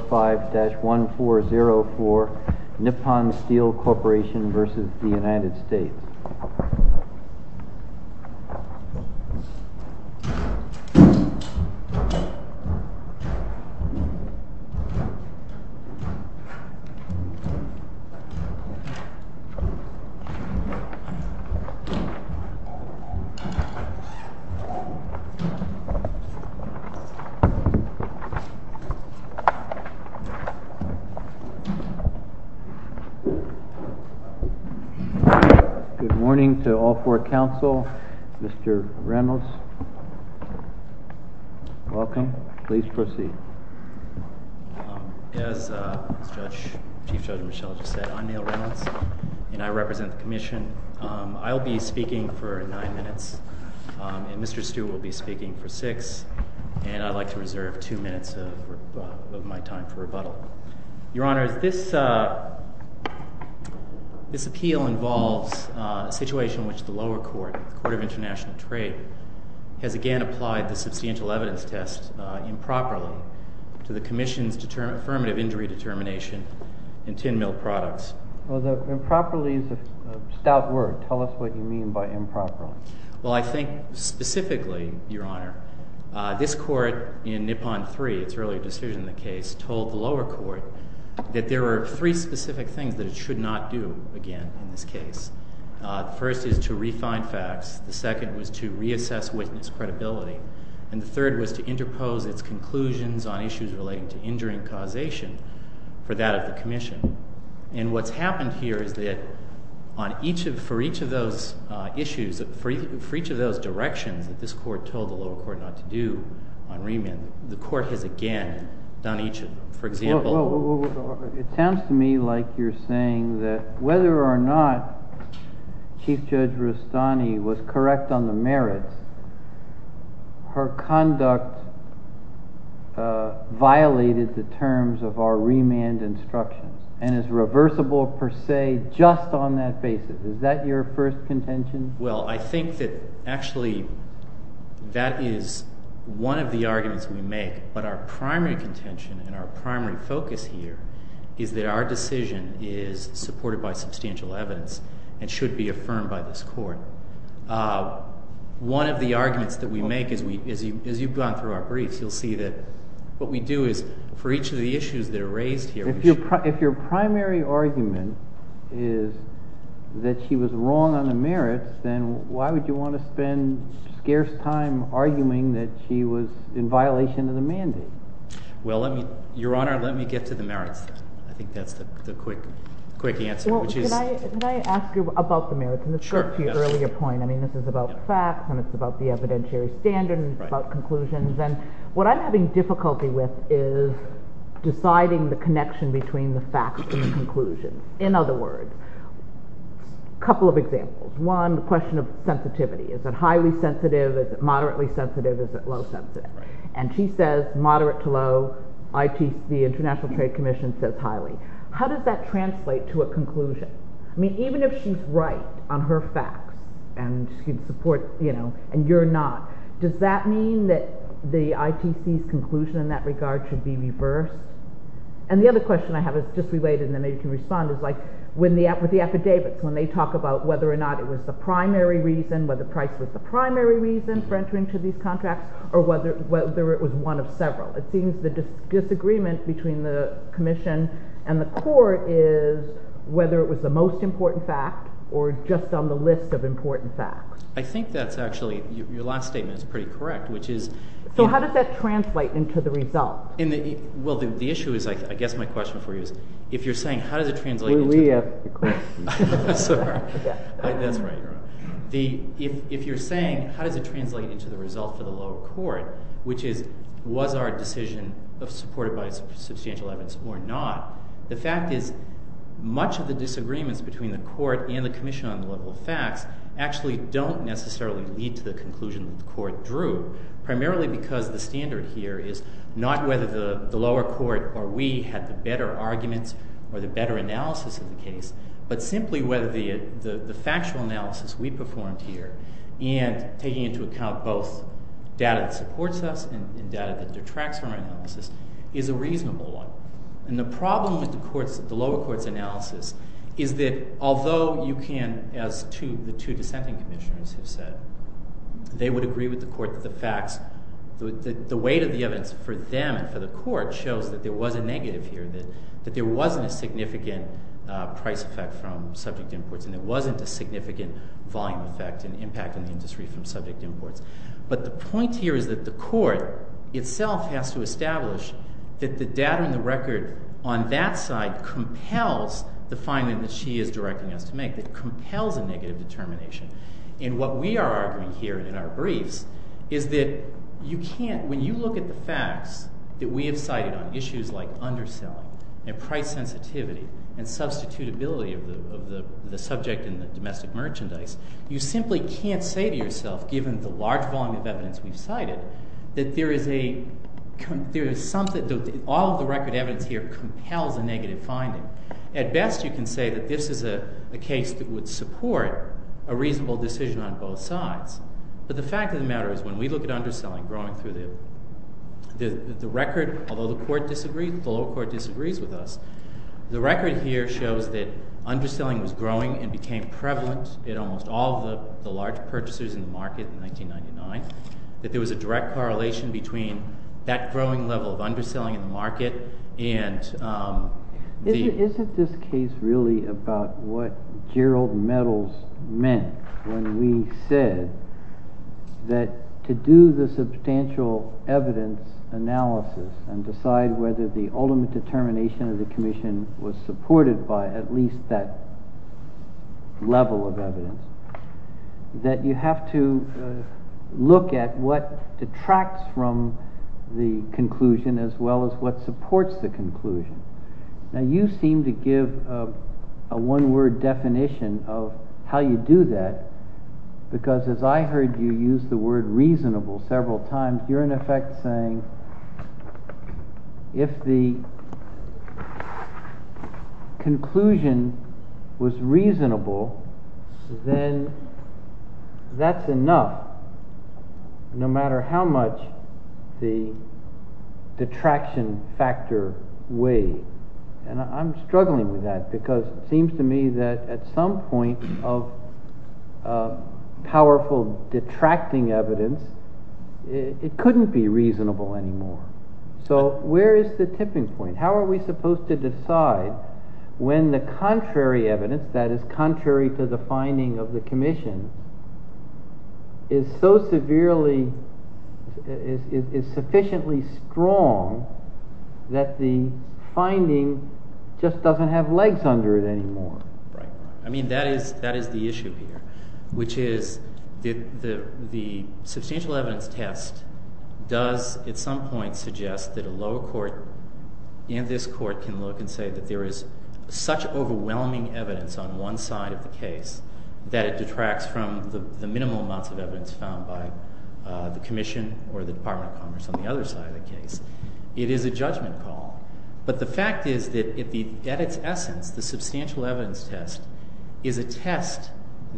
5-140 for Nippon Steel Corporation versus the United States. Good morning to all four council. Mr. Reynolds, welcome. Please proceed. As Chief Judge Michel just said, I'm Neal Reynolds and I represent the commission. I'll be speaking for nine minutes and Mr. Stewart will be speaking for six. And I'd like to reserve two minutes of my time for rebuttal. Your Honor, this appeal involves a situation in which the lower court, the Court of International Trade, has again applied the substantial evidence test improperly to the commission's affirmative injury determination in tin mill products. Improperly is a stout word. Tell us what you mean by improperly. Well, I think specifically, Your Honor, this court in Nippon 3, its earlier decision in the case, told the lower court that there were three specific things that it should not do again in this case. The first is to refine facts. The second was to reassess witness credibility. And the third was to interpose its conclusions on issues relating to injuring causation for that of the commission. And what's happened here is that for each of those directions that this court told the lower court not to do on remand, the court has again done each of them. It sounds to me like you're saying that whether or not Chief Judge Rustani was correct on the merits, her conduct violated the terms of our remand instructions and is reversible per se just on that basis. Is that your first contention? Well, I think that actually that is one of the arguments we make. But our primary contention and our primary focus here is that our decision is supported by substantial evidence and should be affirmed by this court. One of the arguments that we make, as you've gone through our briefs, you'll see that what we do is for each of the issues that are raised here— if your primary argument is that she was wrong on the merits, then why would you want to spend scarce time arguing that she was in violation of the mandate? Well, Your Honor, let me get to the merits. I think that's the quick answer. Well, can I ask you about the merits? And this goes to your earlier point. I mean, this is about facts, and it's about the evidentiary standard, and it's about conclusions. And what I'm having difficulty with is deciding the connection between the facts and the conclusions. In other words, a couple of examples. One, the question of sensitivity. Is it highly sensitive? Is it moderately sensitive? Is it low sensitive? And she says moderate to low. The International Trade Commission says highly. How does that translate to a conclusion? I mean, even if she's right on her facts and she'd support, you know, and you're not, does that mean that the ITC's conclusion in that regard should be reversed? And the other question I have is just related, and then maybe you can respond, is like with the affidavits, when they talk about whether or not it was the primary reason, whether Price was the primary reason for entering into these contracts, or whether it was one of several. It seems the disagreement between the Commission and the court is whether it was the most important fact or just on the list of important facts. I think that's actually, your last statement is pretty correct, which is… So how does that translate into the result? Well, the issue is, I guess my question for you is, if you're saying how does it translate into… We asked the question. That's right. If you're saying how does it translate into the result for the lower court, which is was our decision supported by substantial evidence or not, the fact is much of the disagreements between the court and the Commission on the level of facts actually don't necessarily lead to the conclusion that the court drew, primarily because the standard here is not whether the lower court or we had the better arguments or the better analysis of the case, but simply whether the factual analysis we performed here and taking into account both data that supports us and data that detracts from our analysis is a reasonable one. And the problem with the lower court's analysis is that although you can, as the two dissenting commissioners have said, they would agree with the court that the facts, the weight of the evidence for them and for the court shows that there was a negative here, that there wasn't a significant price effect from subject imports and there wasn't a significant volume effect and impact in the industry from subject imports. But the point here is that the court itself has to establish that the data and the record on that side compels the finding that she is directing us to make, that compels a negative determination. And what we are arguing here in our briefs is that you can't, when you look at the facts that we have cited on issues like underselling and price sensitivity and substitutability of the subject in the domestic merchandise, you simply can't say to yourself, given the large volume of evidence we've cited, that all of the record evidence here compels a negative finding. At best, you can say that this is a case that would support a reasonable decision on both sides. But the fact of the matter is when we look at underselling growing through the record, although the lower court disagrees with us, the record here shows that underselling was growing and became prevalent in almost all of the large purchasers in the market in 1999, that there was a direct correlation between that growing level of underselling in the market and the— Is it this case really about what Gerald Meadows meant when we said that to do the substantial evidence analysis and decide whether the ultimate determination of the commission was supported by at least that level of evidence, that you have to look at what detracts from the conclusion as well as what supports the conclusion. Now you seem to give a one-word definition of how you do that, because as I heard you use the word reasonable several times. You're in effect saying if the conclusion was reasonable, then that's enough no matter how much the detraction factor weighed. And I'm struggling with that because it seems to me that at some point of powerful detracting evidence, it couldn't be reasonable anymore. So where is the tipping point? How are we supposed to decide when the contrary evidence, that is contrary to the finding of the commission, is so severely—is sufficiently strong that the finding just doesn't have legs under it anymore? Right. I mean, that is the issue here, which is that the substantial evidence test does at some point suggest that a lower court and this court can look and say that there is such overwhelming evidence on one side of the case that it detracts from the minimal amounts of evidence found by the commission or the Department of Commerce on the other side of the case. It is a judgment call. But the fact is that at its essence, the substantial evidence test is a test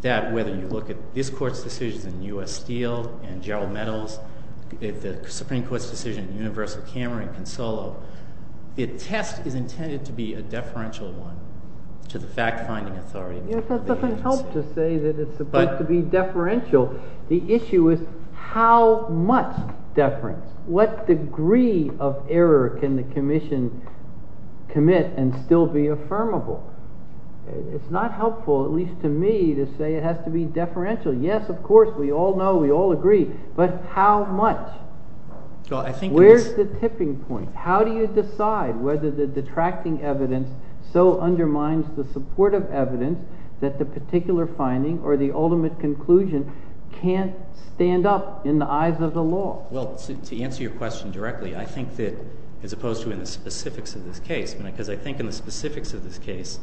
that whether you look at this court's decisions in U.S. Steel and Gerald Meadows, the Supreme Court's decision in Universal Camera in Consolo, the test is intended to be a deferential one to the fact-finding authority. That doesn't help to say that it's supposed to be deferential. The issue is how much deference. What degree of error can the commission commit and still be affirmable? It's not helpful, at least to me, to say it has to be deferential. Yes, of course, we all know, we all agree, but how much? Where's the tipping point? How do you decide whether the detracting evidence so undermines the supportive evidence that the particular finding or the ultimate conclusion can't stand up in the eyes of the law? Well, to answer your question directly, I think that as opposed to in the specifics of this case, because I think in the specifics of this case,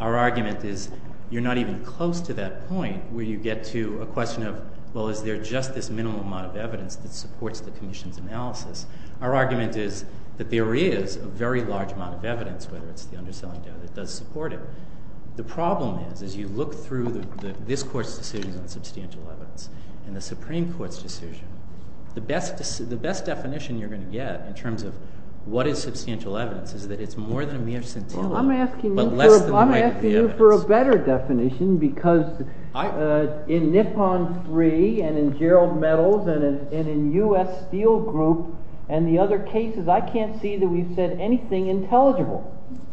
our argument is you're not even close to that point where you get to a question of, well, is there just this minimum amount of evidence that supports the commission's analysis? Our argument is that there is a very large amount of evidence, whether it's the underselling data that does support it. The problem is as you look through this court's decisions on substantial evidence and the Supreme Court's decision, the best definition you're going to get in terms of what is substantial evidence is that it's more than a mere scintilla, but less than the height of the evidence. Well, I'm asking you for a better definition because in Nippon 3 and in Gerald Meadows and in U.S. Steel Group and the other cases, I can't see that we've said anything intelligible.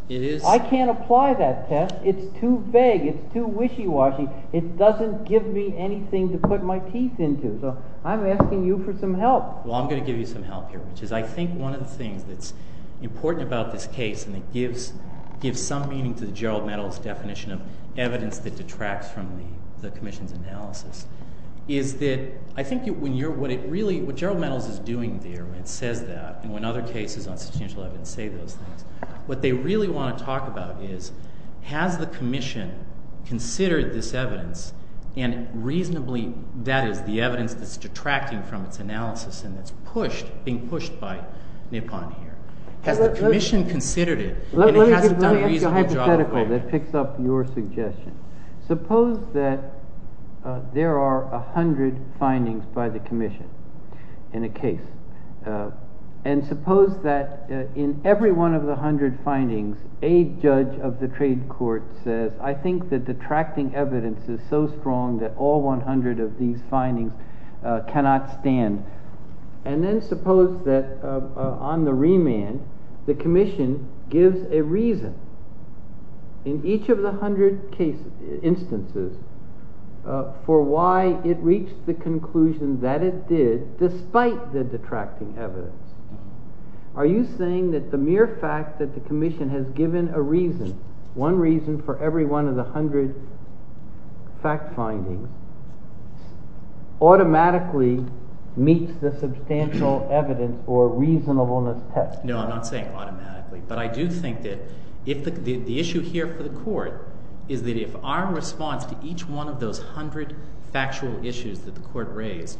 I can't apply that test. It's too vague. It's too wishy-washy. It doesn't give me anything to put my teeth into. So I'm asking you for some help. Well, I'm going to give you some help here, which is I think one of the things that's important about this case, and it gives some meaning to the Gerald Meadows definition of evidence that detracts from the commission's analysis, is that I think what Gerald Meadows is doing there when it says that and when other cases on substantial evidence say those things, what they really want to talk about is has the commission considered this evidence and reasonably that is the evidence that's detracting from its analysis and that's being pushed by Nippon here? Has the commission considered it? Let me give you a hypothetical that picks up your suggestion. Suppose that there are 100 findings by the commission in a case. And suppose that in every one of the 100 findings, a judge of the trade court says, I think the detracting evidence is so strong that all 100 of these findings cannot stand. And then suppose that on the remand, the commission gives a reason in each of the 100 instances for why it reached the conclusion that it did despite the detracting evidence. Are you saying that the mere fact that the commission has given a reason, one reason for every one of the 100 fact findings, automatically meets the substantial evidence or reasonableness test? No, I'm not saying automatically. But I do think that the issue here for the court is that if our response to each one of those 100 factual issues that the court raised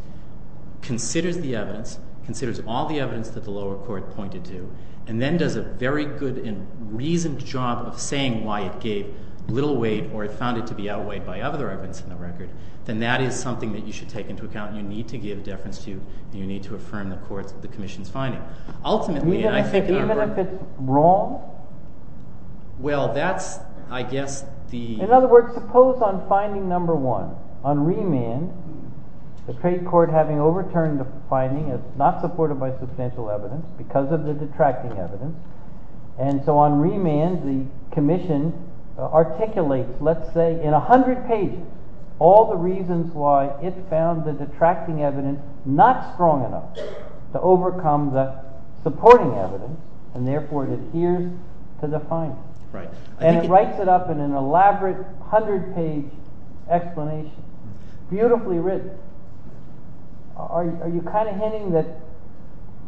considers the evidence, considers all the evidence that the lower court pointed to, and then does a very good and reasoned job of saying why it gave little weight or it found it to be outweighed by other evidence in the record, then that is something that you should take into account. You need to give deference to, and you need to affirm the court's, the commission's finding. Ultimately, I think in our regard— Even if it's wrong? Well, that's, I guess, the— In other words, suppose on finding number one, on remand, the trade court having overturned the finding as not supported by substantial evidence because of the detracting evidence. And so on remand, the commission articulates, let's say, in 100 pages, all the reasons why it found the detracting evidence not strong enough to overcome the supporting evidence, and therefore it adheres to the findings. And it writes it up in an elaborate 100-page explanation, beautifully written. Are you kind of hinting that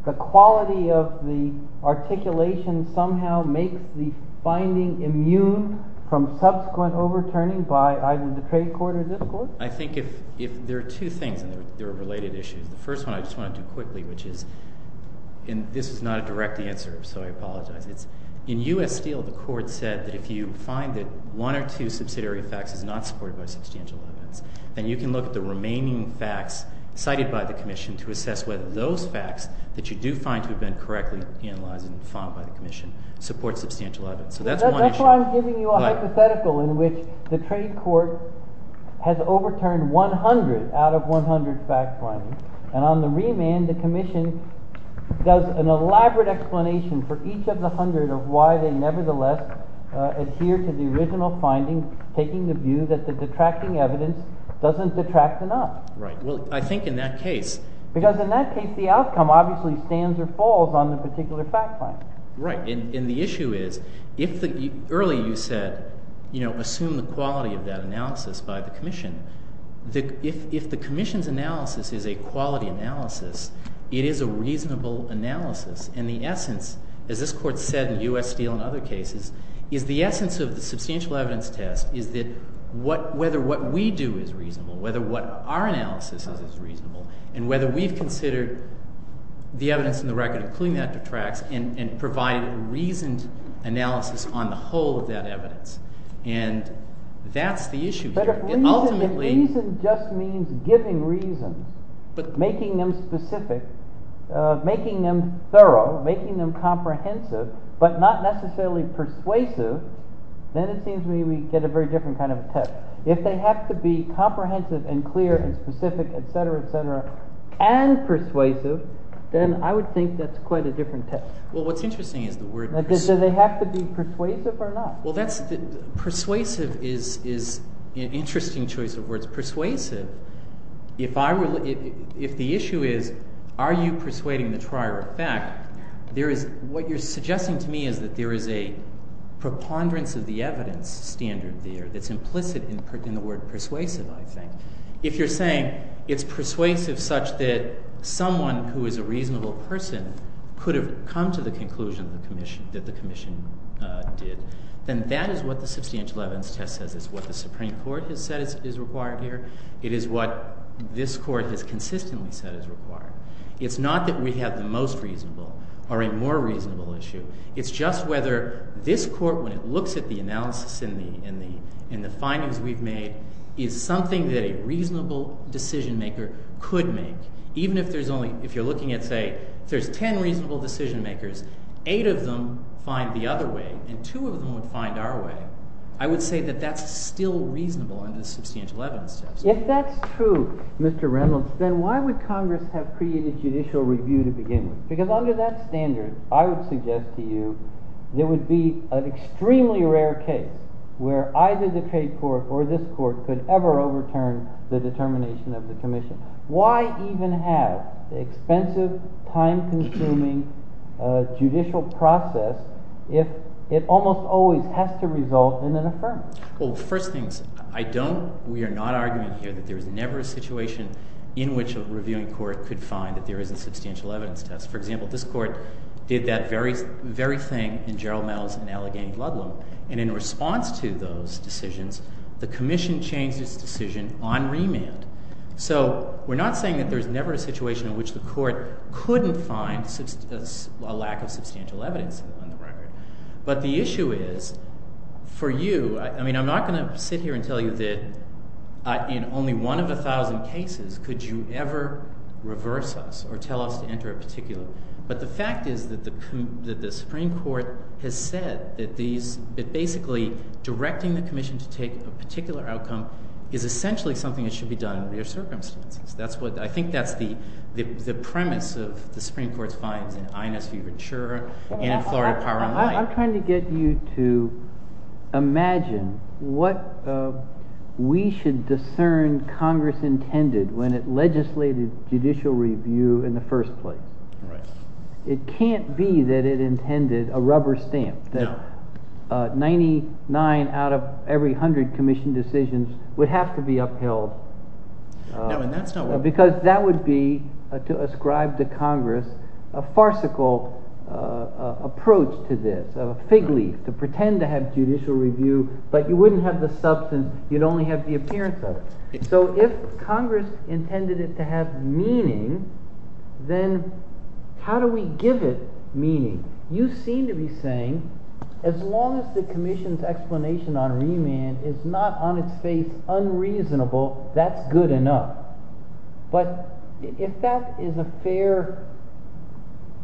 the quality of the articulation somehow makes the finding immune from subsequent overturning by either the trade court or this court? I think there are two things, and they're related issues. The first one I just want to do quickly, which is— And this is not a direct answer, so I apologize. In U.S. Steel, the court said that if you find that one or two subsidiary facts is not supported by substantial evidence, then you can look at the remaining facts cited by the commission to assess whether those facts that you do find to have been correctly analyzed and found by the commission support substantial evidence. That's why I'm giving you a hypothetical in which the trade court has overturned 100 out of 100 facts findings. And on the remand, the commission does an elaborate explanation for each of the 100 of why they nevertheless adhere to the original findings, taking the view that the detracting evidence doesn't detract enough. Right. Well, I think in that case— Because in that case, the outcome obviously stands or falls on the particular fact find. Right. And the issue is, early you said, assume the quality of that analysis by the commission. If the commission's analysis is a quality analysis, it is a reasonable analysis. And the essence, as this court said in U.S. Steel and other cases, is the essence of the substantial evidence test is that whether what we do is reasonable, whether what our analysis is is reasonable, and whether we've considered the evidence in the record, including that detracts, and provided a reasoned analysis on the whole of that evidence. And that's the issue here. But if reason just means giving reason, making them specific, making them thorough, making them comprehensive, but not necessarily persuasive, then it seems to me we get a very different kind of test. If they have to be comprehensive and clear and specific, et cetera, et cetera, and persuasive, then I would think that's quite a different test. Well, what's interesting is the word— Does it have to be persuasive or not? Well, persuasive is an interesting choice of words. If the issue is are you persuading the trier of fact, what you're suggesting to me is that there is a preponderance of the evidence standard there that's implicit in the word persuasive, I think. If you're saying it's persuasive such that someone who is a reasonable person could have come to the conclusion that the commission did, then that is what the substantial evidence test says is what the Supreme Court has said is required here. It is what this Court has consistently said is required. It's not that we have the most reasonable or a more reasonable issue. It's just whether this Court, when it looks at the analysis and the findings we've made, is something that a reasonable decision-maker could make. Even if there's only—if you're looking at, say, there's ten reasonable decision-makers, eight of them find the other way, and two of them would find our way, I would say that that's still reasonable under the substantial evidence test. If that's true, Mr. Reynolds, then why would Congress have created judicial review to begin with? Because under that standard, I would suggest to you there would be an extremely rare case where either the trade court or this court could ever overturn the determination of the commission. Why even have the expensive, time-consuming judicial process if it almost always has to result in an affirmative? Well, first things, I don't—we are not arguing here that there is never a situation in which a reviewing court could find that there is a substantial evidence test. For example, this Court did that very thing in Gerald Mell's in Allegheny-Gludlum, and in response to those decisions, the commission changed its decision on remand. So we're not saying that there's never a situation in which the court couldn't find a lack of substantial evidence on the record. But the issue is, for you—I mean, I'm not going to sit here and tell you that in only one of a thousand cases could you ever reverse us or tell us to enter a particular— but the fact is that the Supreme Court has said that basically directing the commission to take a particular outcome is essentially something that should be done in real circumstances. That's what—I think that's the premise of the Supreme Court's finds in Inez v. Rature and in Florida Power and Light. I'm trying to get you to imagine what we should discern Congress intended when it legislated judicial review in the first place. It can't be that it intended a rubber stamp, that 99 out of every 100 commissioned decisions would have to be upheld. No, and that's not what— Because that would be, to ascribe to Congress, a farcical approach to this, a fig leaf, to pretend to have judicial review, but you wouldn't have the substance. You'd only have the appearance of it. So if Congress intended it to have meaning, then how do we give it meaning? You seem to be saying as long as the commission's explanation on remand is not on its face unreasonable, that's good enough. But if that is a fair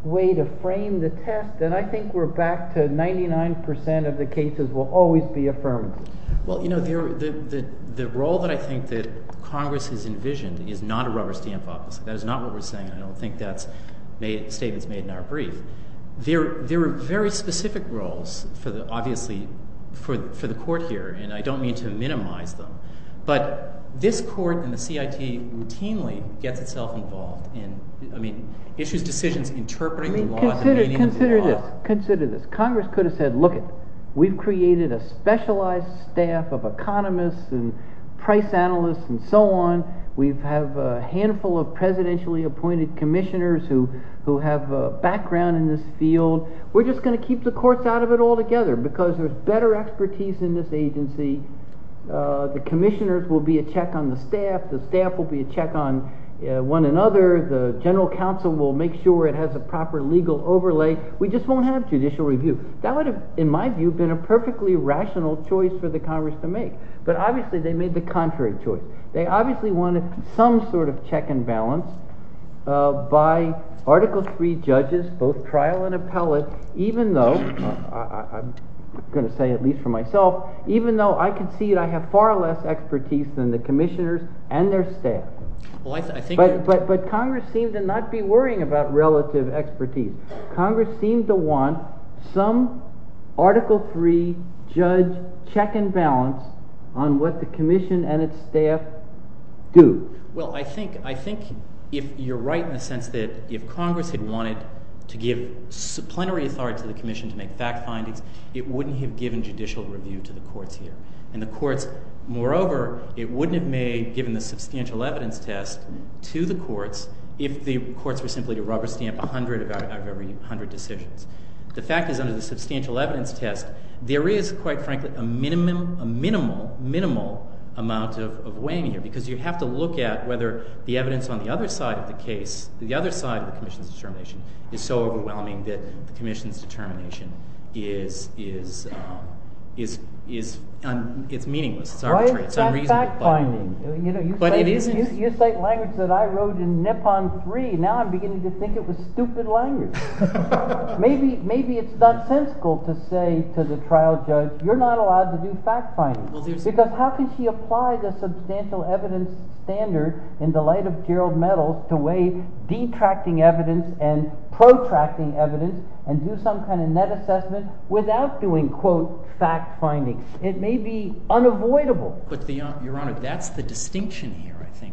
way to frame the test, then I think we're back to 99% of the cases will always be affirmative. Well, the role that I think that Congress has envisioned is not a rubber stamp office. That is not what we're saying, and I don't think that statement's made in our brief. There are very specific roles, obviously, for the court here, and I don't mean to minimize them, but this court and the CIT routinely gets itself involved in issues, decisions, interpreting the laws and meaning of the law. Consider this. Congress could have said, look, we've created a specialized staff of economists and price analysts and so on. We have a handful of presidentially appointed commissioners who have a background in this field. We're just going to keep the courts out of it altogether because there's better expertise in this agency. The commissioners will be a check on the staff. The staff will be a check on one another. The general counsel will make sure it has a proper legal overlay. We just won't have judicial review. That would have, in my view, been a perfectly rational choice for the Congress to make, but obviously they made the contrary choice. They obviously wanted some sort of check and balance by Article III judges, both trial and appellate, even though, I'm going to say at least for myself, even though I concede I have far less expertise than the commissioners and their staff. But Congress seemed to not be worrying about relative expertise. Congress seemed to want some Article III judge check and balance on what the commission and its staff do. Well, I think you're right in the sense that if Congress had wanted to give subplenary authority to the commission to make fact findings, it wouldn't have given judicial review to the courts here. Moreover, it wouldn't have given the substantial evidence test to the courts if the courts were simply to rubber stamp 100 out of every 100 decisions. The fact is, under the substantial evidence test, there is, quite frankly, a minimal amount of weighing here because you have to look at whether the evidence on the other side of the case, the other side of the commission's determination, is so overwhelming that the commission's determination is meaningless. It's arbitrary. It's unreasonable. Why is it not fact finding? But it isn't. You cite language that I wrote in Nippon III. Now I'm beginning to think it was stupid language. Maybe it's nonsensical to say to the trial judge, you're not allowed to do fact finding. Because how can she apply the substantial evidence standard in the light of Gerald Mettle to weigh detracting evidence and protracting evidence and do some kind of net assessment without doing, quote, fact finding? It may be unavoidable. But, Your Honor, that's the distinction here, I think.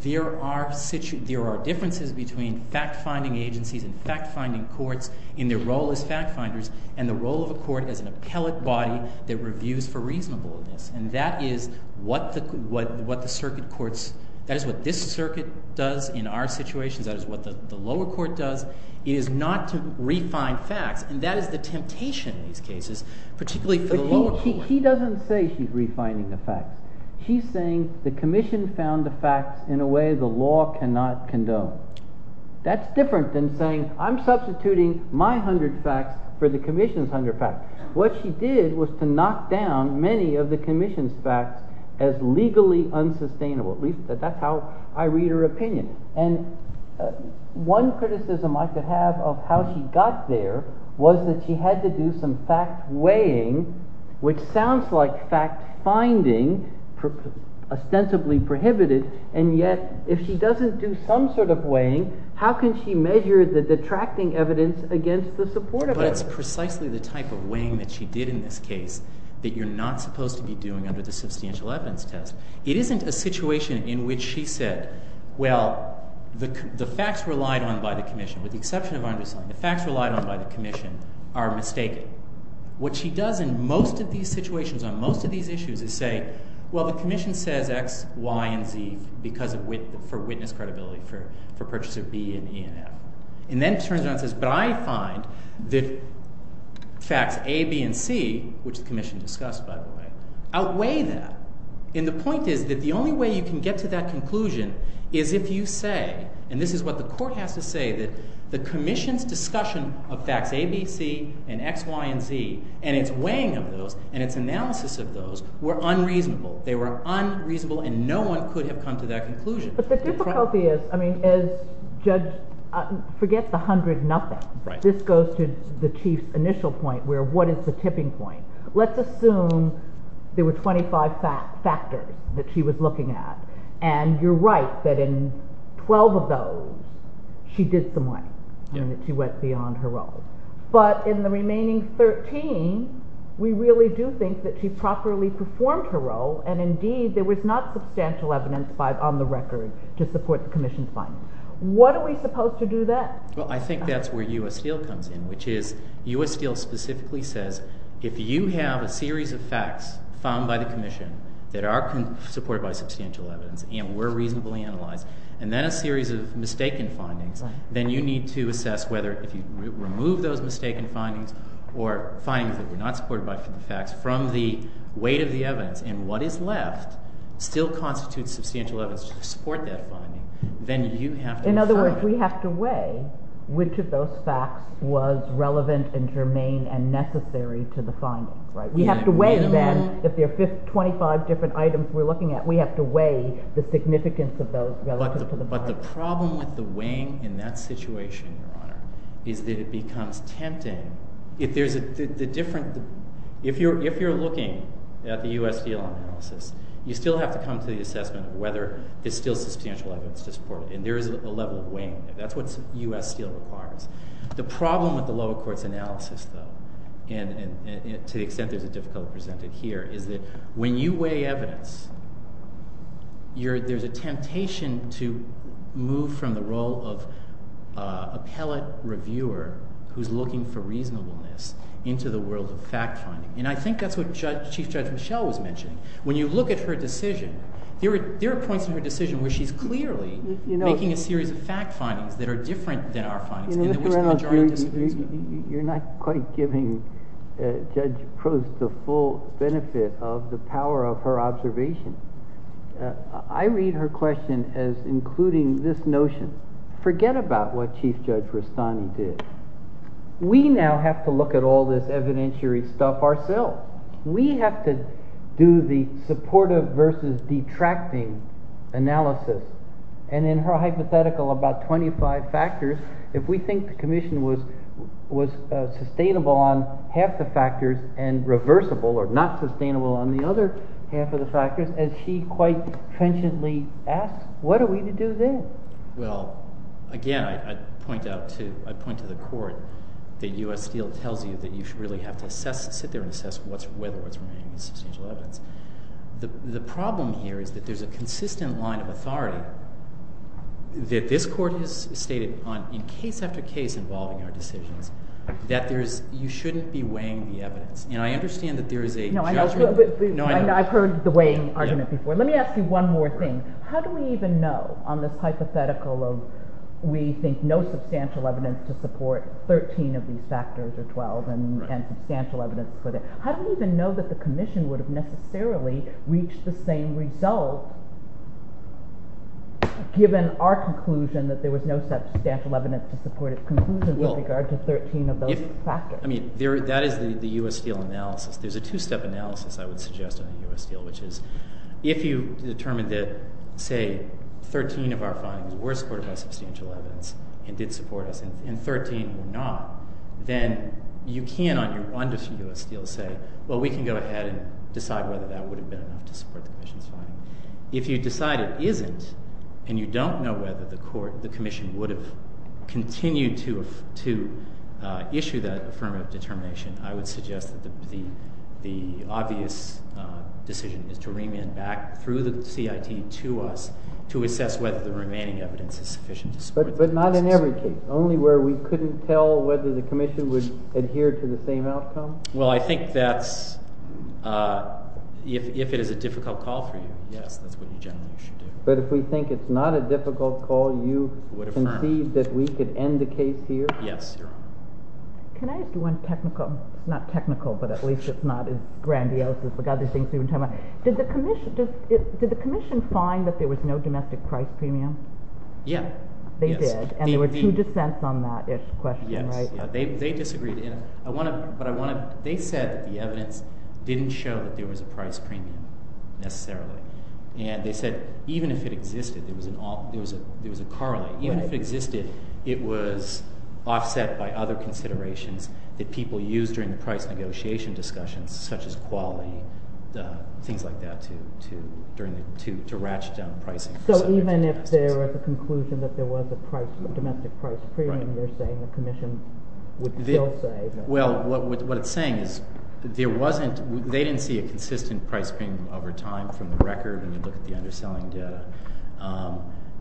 There are differences between fact finding agencies and fact finding courts in their role as fact finders and the role of a court as an appellate body that reviews for reasonableness. And that is what the circuit courts, that is what this circuit does in our situations, that is what the lower court does. It is not to refine facts. And that is the temptation in these cases, particularly for the lower court. He doesn't say she's refining the facts. He's saying the commission found the facts in a way the law cannot condone. That's different than saying, I'm substituting my 100 facts for the commission's 100 facts. What she did was to knock down many of the commission's facts as legally unsustainable. At least, that's how I read her opinion. And one criticism I could have of how she got there was that she had to do some fact weighing, which sounds like fact finding, ostensibly prohibited. And yet, if she doesn't do some sort of weighing, how can she measure the detracting evidence against the support of evidence? But it's precisely the type of weighing that she did in this case that you're not supposed to be doing under the substantial evidence test. It isn't a situation in which she said, well, the facts relied on by the commission, with the exception of our understanding, the facts relied on by the commission are mistaken. What she does in most of these situations, on most of these issues, is say, well, the commission says X, Y, and Z for witness credibility, for purchase of B and E and F. And then turns around and says, but I find that facts A, B, and C, which the commission discussed, by the way, outweigh that. And the point is that the only way you can get to that conclusion is if you say, and this is what the court has to say, that the commission's discussion of facts A, B, C, and X, Y, and Z, and its weighing of those, and its analysis of those, were unreasonable. They were unreasonable, and no one could have come to that conclusion. But the difficulty is, I mean, as Judge, forget the 100 nothing. This goes to the Chief's initial point, where what is the tipping point? Let's assume there were 25 factors that she was looking at. And you're right that in 12 of those, she did some weight. She went beyond her role. But in the remaining 13, we really do think that she properly performed her role, and indeed, there was not substantial evidence on the record to support the commission's findings. What are we supposed to do then? Well, I think that's where U.S. Steel comes in, which is U.S. Steel specifically says, if you have a series of facts found by the commission that are supported by substantial evidence and were reasonably analyzed, and then a series of mistaken findings, then you need to assess whether if you remove those mistaken findings or findings that were not supported by facts from the weight of the evidence, and what is left still constitutes substantial evidence to support that finding, then you have to decide. In other words, we have to weigh which of those facts was relevant and germane and necessary to the findings, right? We have to weigh, then, if there are 25 different items we're looking at, we have to weigh the significance of those relative to the findings. But the problem with the weighing in that situation, Your Honor, is that it becomes tempting. If there's a different... If you're looking at the U.S. Steel analysis, you still have to come to the assessment of whether there's still substantial evidence to support it, and there is a level of weighing there. That's what U.S. Steel requires. The problem with the lower court's analysis, though, and to the extent there's a difficulty presented here, is that when you weigh evidence, there's a temptation to move from the role of appellate reviewer, who's looking for reasonableness, into the world of fact-finding. And I think that's what Chief Judge Mischel was mentioning. When you look at her decision, there are points in her decision where she's clearly making a series of fact-findings that are different than our findings, in which the majority disagrees with. You're not quite giving Judge Prost the full benefit of the power of her observation. I read her question as including this notion. Forget about what Chief Judge Rastani did. We now have to look at all this evidentiary stuff ourselves. We have to do the supportive versus detracting analysis. And in her hypothetical, about 25 factors, if we think the commission was sustainable on half the factors and reversible, or not sustainable on the other half of the factors, as she quite frantically asked, what are we to do then? Well, again, I'd point to the court that U.S. Steel tells you that you should really have to sit there and assess whether what's remaining is substantial evidence. The problem here is that there's a consistent line of authority that this court has stated in case after case involving our decisions, that you shouldn't be weighing the evidence. And I understand that there is a judgment... I've heard the weighing argument before. Let me ask you one more thing. How do we even know on this hypothetical of we think no substantial evidence to support 13 of these factors or 12 and substantial evidence for that? How do we even know that the commission would have necessarily reached the same result given our conclusion that there was no substantial evidence to support its conclusion with regard to 13 of those factors? I mean, that is the U.S. Steel analysis. There's a two-step analysis, I would suggest, on the U.S. Steel, which is if you determined that, say, 13 of our findings were supported by substantial evidence and did support us, and 13 were not, then you can on your wonderful U.S. Steel say, well, we can go ahead and decide whether that would have been enough to support the commission's finding. If you decide it isn't, and you don't know whether the commission would have continued to issue that affirmative determination, I would suggest that the obvious decision is to remand back through the CIT to us to assess whether the remaining evidence is sufficient to support... But not in every case, only where we couldn't tell whether the commission would adhere to the same outcome? Well, I think that's... It's a difficult call for you. Yes, that's what you generally should do. But if we think it's not a difficult call, you concede that we could end the case here? Yes, Your Honor. Can I ask you one technical... Not technical, but at least it's not as grandiose as the other things we've been talking about. Did the commission find that there was no domestic price premium? Yeah. They did. And there were two dissents on that-ish question, right? Yes. They disagreed. But I want to... They said that the evidence didn't show that there was a price premium necessarily. And they said even if it existed, there was a correlate. Even if it existed, it was offset by other considerations that people used during the price negotiation discussions, such as quality, things like that, to ratchet down pricing. So even if there was a conclusion that there was a domestic price premium, you're saying the commission would still say... Well, what it's saying is there wasn't... There was a consistent price premium over time from the record when you look at the underselling debt.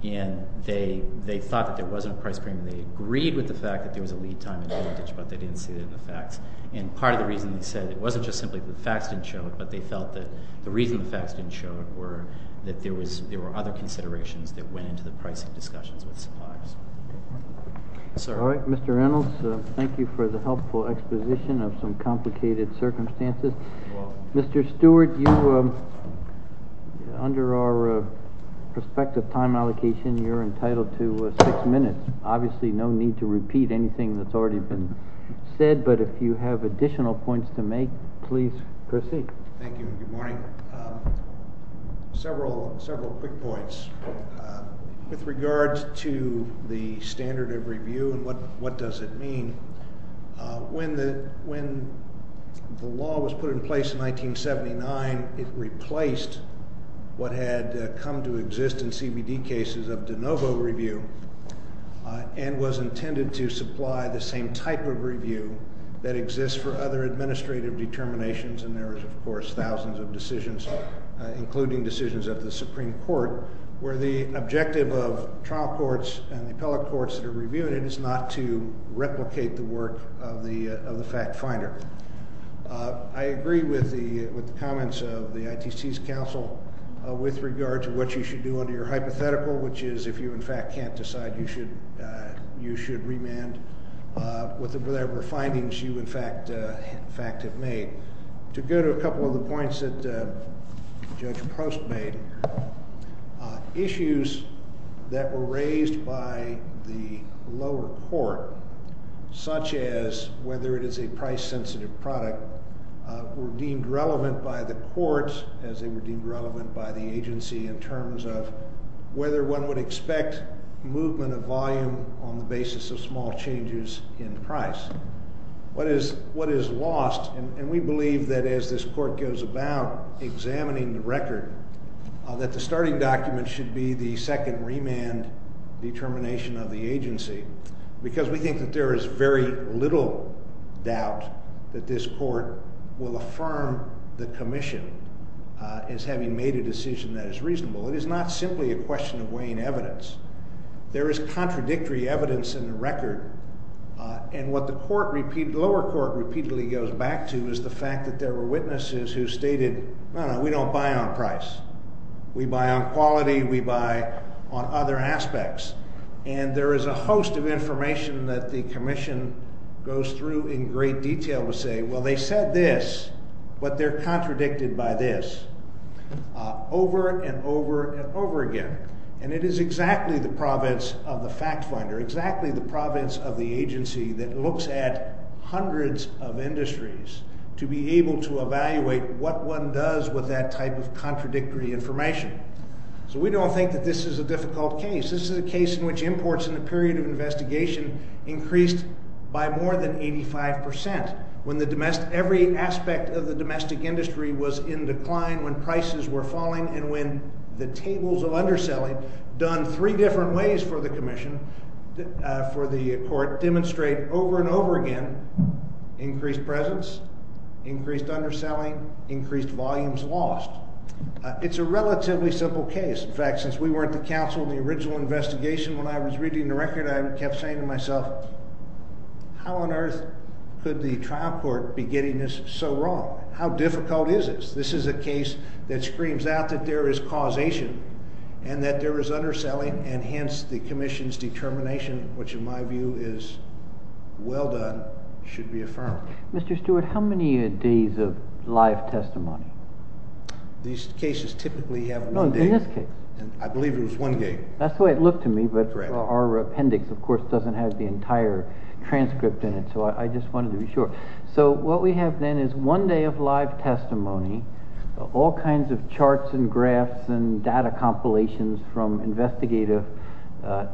And they thought that there wasn't a price premium. They agreed with the fact that there was a lead time advantage, but they didn't see it in the facts. And part of the reason they said it wasn't just simply that the facts didn't show it, but they felt that the reason the facts didn't show it were that there were other considerations that went into the pricing discussions with suppliers. All right, Mr. Reynolds, thank you for the helpful exposition of some complicated circumstances. You're welcome. Mr. Stewart, you... Under our prospective time allocation, you're entitled to 6 minutes. Obviously, no need to repeat anything that's already been said, but if you have additional points to make, please proceed. Thank you, and good morning. Several quick points. With regard to the standard of review and what does it mean, when the law was put in place in 1979, it replaced what had come to exist in CBD cases of de novo review and was intended to supply the same type of review that exists for other administrative determinations, and there is, of course, thousands of decisions, including decisions of the Supreme Court, where the objective of trial courts and the appellate courts that are reviewing it is not to replicate the work of the fact finder. I agree with the comments of the ITC's counsel with regard to what you should do under your hypothetical, which is if you, in fact, can't decide, you should remand with whatever findings you, in fact, have made. To go to a couple of the points that Judge Post made, issues that were raised by the lower court, such as whether it is a price-sensitive product, were deemed relevant by the courts as they were deemed relevant by the agency in terms of whether one would expect movement of volume on the basis of small changes in price. What is lost, and we believe that as this court goes about examining the record, that the starting document should be the second remand determination of the agency, because we think that there is very little doubt that this court will affirm the commission as having made a decision that is reasonable. It is not simply a question of weighing evidence. There is contradictory evidence in the record, and what the lower court repeatedly goes back to is the fact that there were witnesses who stated, no, no, we don't buy on price. We buy on quality, we buy on other aspects. And there is a host of information that the commission goes through in great detail to say, well, they said this, but they're contradicted by this, over and over and over again. And it is exactly the province of the fact finder, exactly the province of the agency that looks at hundreds of industries to be able to evaluate what one does with that type of contradictory information. So we don't think that this is a difficult case. This is a case in which imports in the period of investigation increased by more than 85%, when every aspect of the domestic industry was in decline, when prices were falling, and when the tables of underselling, done three different ways for the commission, for the court, demonstrate over and over again increased presence, increased underselling, increased volumes lost. It's a relatively simple case. In fact, since we weren't the counsel in the original investigation when I was reading the record, I kept saying to myself, how on earth could the trial court be getting this so wrong? How difficult is this? This is a case that screams out that there is causation and that there is underselling, and hence the commission's determination, which in my view is well done, should be affirmed. Mr. Stewart, how many days of live testimony? These cases typically have one day. No, in this case. I believe it was one day. That's the way it looked to me, but our appendix, of course, doesn't have the entire transcript in it, so I just wanted to be sure. So what we have then is one day of live testimony, all kinds of charts and graphs and data compilations from investigative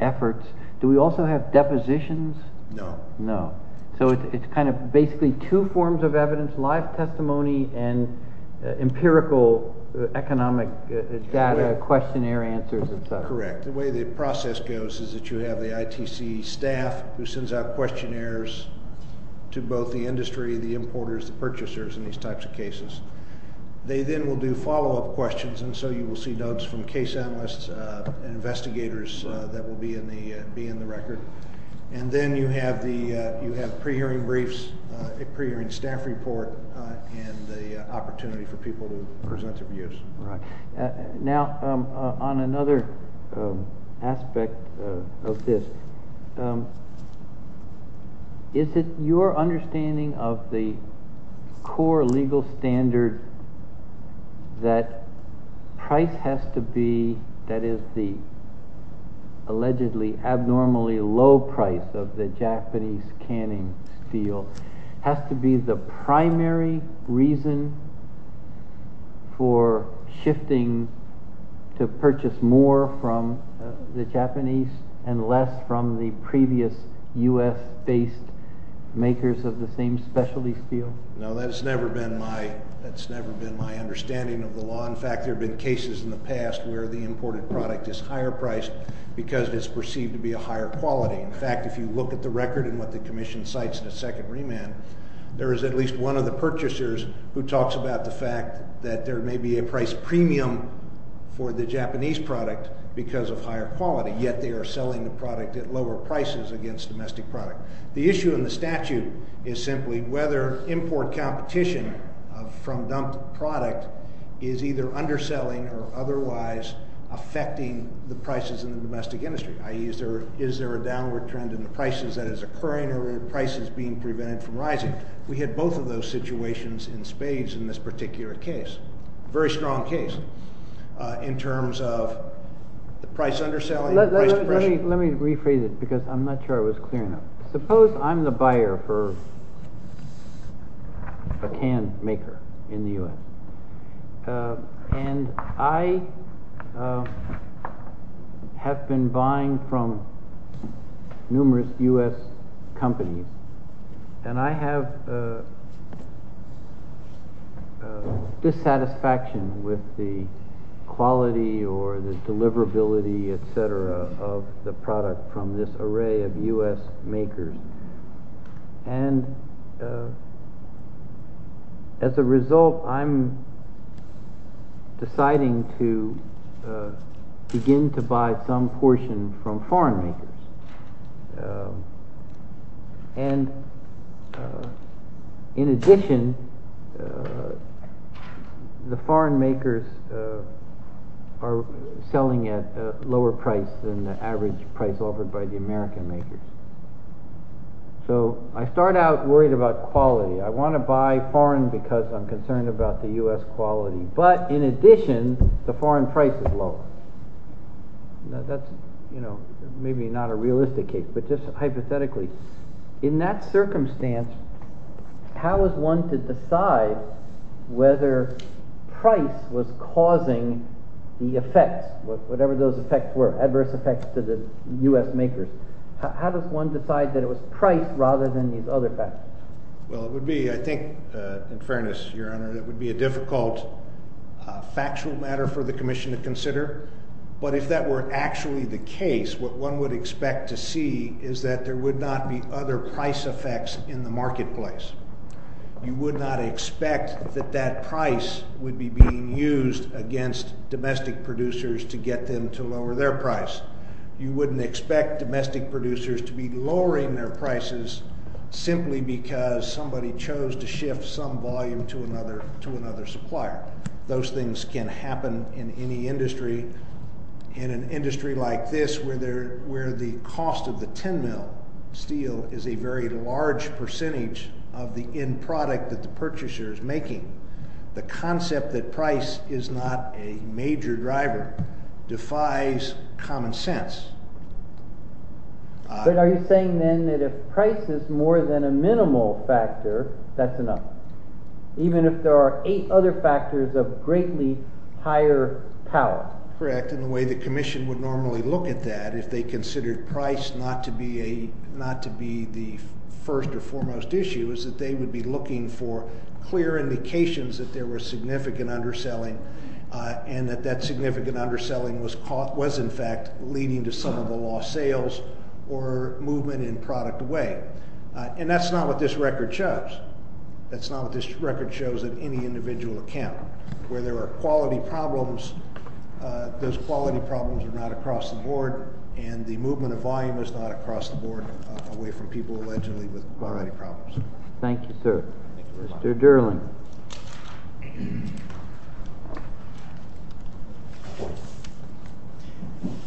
efforts. Do we also have depositions? No. No. So it's kind of basically two forms of evidence, live testimony and empirical economic data, questionnaire answers and such. Correct. The way the process goes is that you have the ITC staff who sends out questionnaires to both the industry, the importers, the purchasers in these types of cases. They then will do follow-up questions, and so you will see notes from case analysts and investigators that will be in the record. And then you have pre-hearing briefs, a pre-hearing staff report, and the opportunity for people to present their views. Right. Now, on another aspect of this, is it your understanding of the core legal standard that price has to be, that is the allegedly abnormally low price of the Japanese canning steel, has to be the primary reason for shifting to purchase more from the Japanese and less from the previous U.S.-based makers of the same specialty steel? No, that's never been my understanding of the law. In fact, there have been cases in the past where the imported product is higher priced because it's perceived to be a higher quality. In fact, if you look at the record and what the Commission cites in its second remand, there is at least one of the purchasers who talks about the fact that there may be a price premium for the Japanese product because of higher quality, yet they are selling the product at lower prices against domestic product. The issue in the statute is simply whether import competition from dumped product is either underselling or otherwise affecting the prices in the domestic industry, i.e., is there a downward trend in the prices that is occurring or are prices being prevented from rising? We had both of those situations in spades in this particular case, a very strong case in terms of the price underselling and the price depression. Let me rephrase it because I'm not sure I was clear enough. Suppose I'm the buyer for a can maker in the U.S., and I have been buying from numerous U.S. companies, and I have dissatisfaction with the quality or the deliverability, etc., of the product from this array of U.S. makers. And as a result, I'm deciding to begin to buy some portion from foreign makers. And in addition, the foreign makers are selling at a lower price than the average price offered by the American makers. So I start out worried about quality. I want to buy foreign because I'm concerned about the U.S. quality. But in addition, the foreign price is low. That's maybe not a realistic case, but just hypothetically. In that circumstance, how is one to decide whether price was causing the effects, whatever those effects were, adverse effects to the U.S. makers? How does one decide that it was price rather than these other factors? Well, it would be, I think, in fairness, Your Honor, it would be a difficult factual matter for the commission to consider. But if that were actually the case, what one would expect to see is that there would not be other price effects in the marketplace. You would not expect that that price would be being used against domestic producers to get them to lower their price. You wouldn't expect domestic producers to be lowering their prices simply because somebody chose to shift some volume to another supplier. Those things can happen in any industry. In an industry like this where the cost of the 10 mil steel is a very large percentage of the end product that the purchaser is making, the concept that price is not a major driver defies common sense. But are you saying then that if price is more than a minimal factor, that's enough? Even if there are eight other factors of greatly higher power? Correct, and the way the commission would normally look at that if they considered price not to be the first or foremost issue is that they would be looking for clear indications that there was significant underselling and that that significant underselling was in fact leading to some of the lost sales or movement in product way. And that's not what this record shows. That's not what this record shows in any individual account. Where there are quality problems, those quality problems are not across the board, and the movement of volume is not across the board away from people allegedly with quality problems. Thank you, sir. Mr. Derling.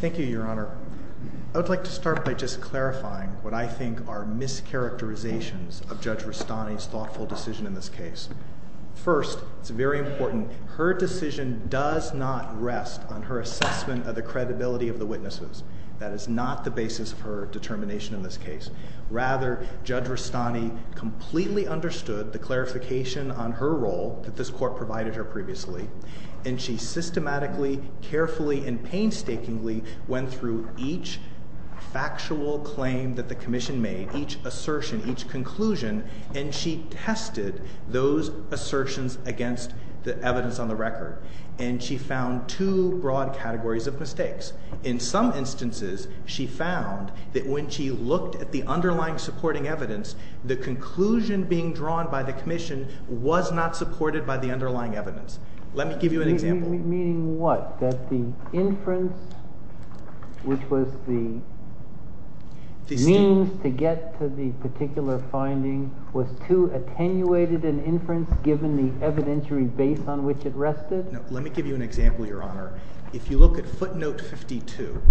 Thank you, Your Honor. I would like to start by just clarifying what I think are mischaracterizations of Judge Rustani's thoughtful decision in this case. First, it's very important, her decision does not rest on her assessment of the credibility of the witnesses. That is not the basis of her determination in this case. Rather, Judge Rustani completely understood the clarification on her role that this court provided her previously, and she systematically, carefully, and painstakingly went through each factual claim that the commission made, each assertion, each conclusion, and she tested those assertions against the evidence on the record. And she found two broad categories of mistakes. In some instances, she found that when she looked at the underlying supporting evidence, the conclusion being drawn by the commission was not supported by the underlying evidence. Let me give you an example. Meaning what? That the inference, which was the means to get to the particular finding, was too attenuated an inference given the evidentiary base on which it rested? Let me give you an example, Your Honor. If you look at footnote 52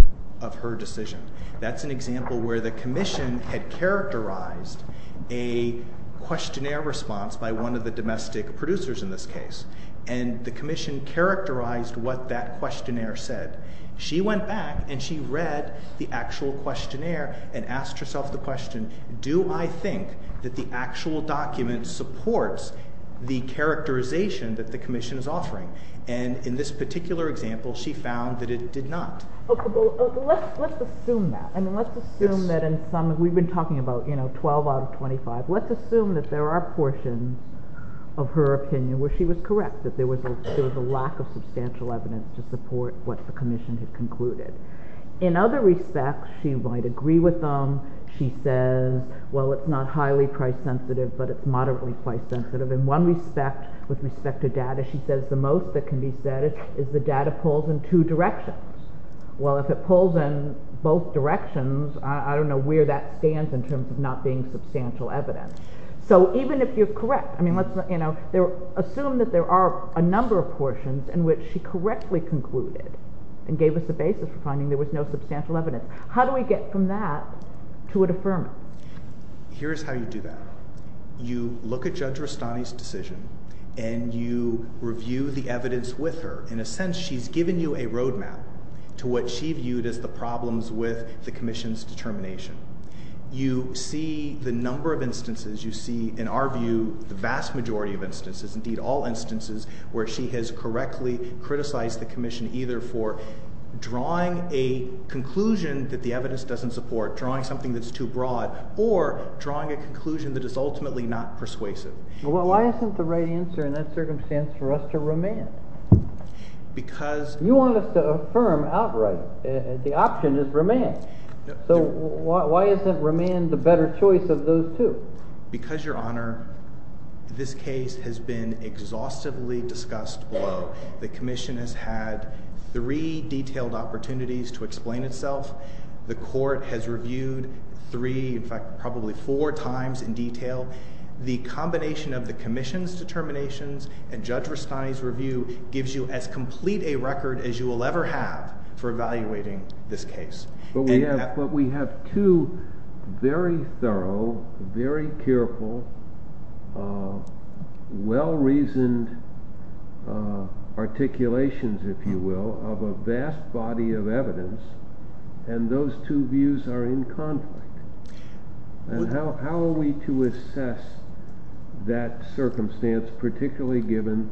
of her decision, that's an example where the commission had characterized a questionnaire response by one of the domestic producers in this case. And the commission characterized what that questionnaire said. She went back and she read the actual questionnaire and asked herself the question, do I think that the actual document supports the characterization that the commission is offering? And in this particular example, she found that it did not. Let's assume that. We've been talking about 12 out of 25. Let's assume that there are portions of her opinion where she was correct, that there was a lack of substantial evidence to support what the commission had concluded. In other respects, she might agree with them. She says, well, it's not highly price sensitive, but it's moderately price sensitive. In one respect, with respect to data, she says the most that can be said is the data pulls in two directions. Well, if it pulls in both directions, I don't know where that stands in terms of not being substantial evidence. So even if you're correct, assume that there are a number of portions in which she correctly concluded and gave us the basis for finding there was no substantial evidence. How do we get from that to a deferment? Here's how you do that. You look at Judge Rustani's decision and you review the evidence with her. In a sense, she's given you a roadmap to what she viewed as the problems with the commission's determination. You see the number of instances. You see, in our view, the vast majority of instances, indeed all instances, where she has correctly criticized the commission either for drawing a conclusion that the evidence doesn't support, drawing something that's too broad, or drawing a conclusion that is ultimately not persuasive. Well, why isn't the right answer in that circumstance for us to remand? Because... You want us to affirm outright the option is remand. So why isn't remand the better choice of those two? Because, Your Honor, this case has been exhaustively discussed below. The commission has had three detailed opportunities to explain itself. The court has reviewed three, in fact, probably four times in detail. The combination of the commission's determinations and Judge Rustani's review gives you as complete a record as you will ever have for evaluating this case. But we have two very thorough, very careful, well-reasoned articulations, if you will, of a vast body of evidence, and those two views are in conflict. And how are we to assess that circumstance, particularly given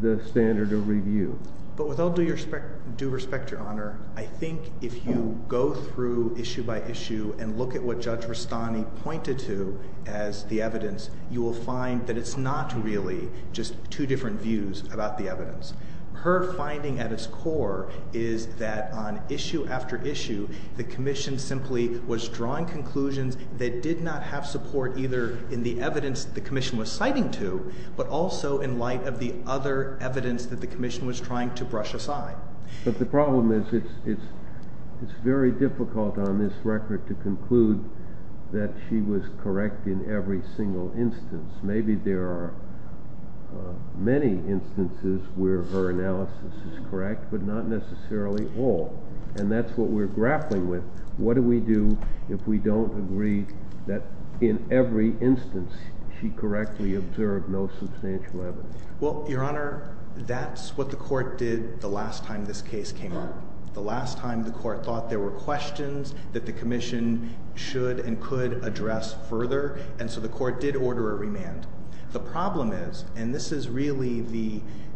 the standard of review? But with all due respect, Your Honor, I think if you go through issue by issue and look at what Judge Rustani pointed to as the evidence, you will find that it's not really just two different views about the evidence. Her finding at its core is that on issue after issue, the commission simply was drawing conclusions that did not have support either in the evidence the commission was citing to, but also in light of the other evidence that the commission was trying to brush aside. But the problem is it's very difficult on this record to conclude that she was correct in every single instance. Maybe there are many instances where her analysis is correct, but not necessarily all. And that's what we're grappling with. What do we do if we don't agree that in every instance she correctly observed no substantial evidence? Well, Your Honor, that's what the court did the last time this case came up. The last time the court thought there were questions, that the commission should and could address further, and so the court did order a remand. The problem is, and this is really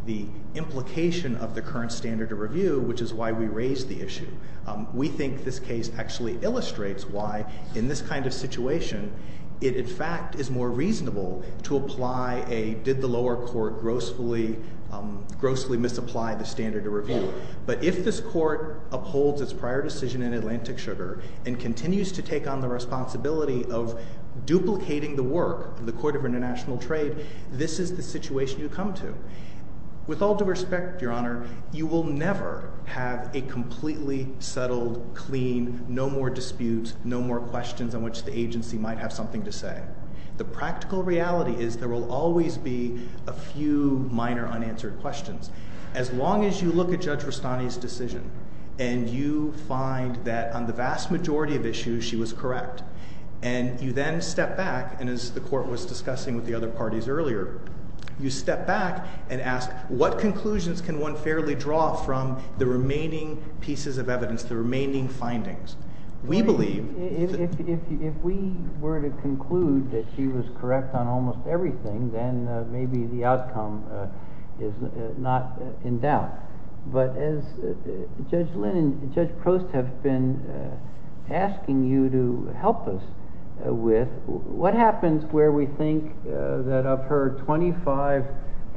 the implication of the current standard of review, which is why we raised the issue, we think this case actually illustrates why in this kind of situation it in fact is more reasonable to apply a did the lower court grossly misapply the standard of review. But if this court upholds its prior decision in Atlantic Sugar and continues to take on the responsibility of duplicating the work of the Court of International Trade, this is the situation you come to. With all due respect, Your Honor, you will never have a completely settled, clean, no more disputes, no more questions on which the agency might have something to say. The practical reality is there will always be a few minor unanswered questions. As long as you look at Judge Rustani's decision and you find that on the vast majority of issues she was correct, and you then step back, and as the court was discussing with the other parties earlier, you step back and ask, what conclusions can one fairly draw from the remaining pieces of evidence, the remaining findings? We believe... If we were to conclude that she was correct on almost everything, then maybe the outcome is not in doubt. But as Judge Lynn and Judge Prost have been asking you to help us with, what happens where we think that of her 25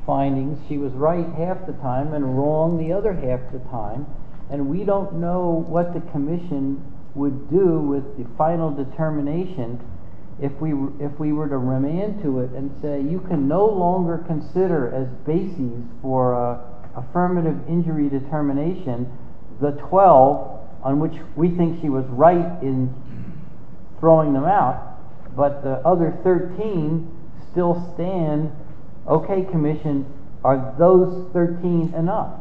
findings, she was right half the time and wrong the other half the time, and we don't know what the Commission would do with the final determination if we were to run into it and say, you can no longer consider as basis for affirmative injury determination the 12 on which we think she was right in throwing them out, but the other 13 still stand. Okay, Commission, are those 13 enough?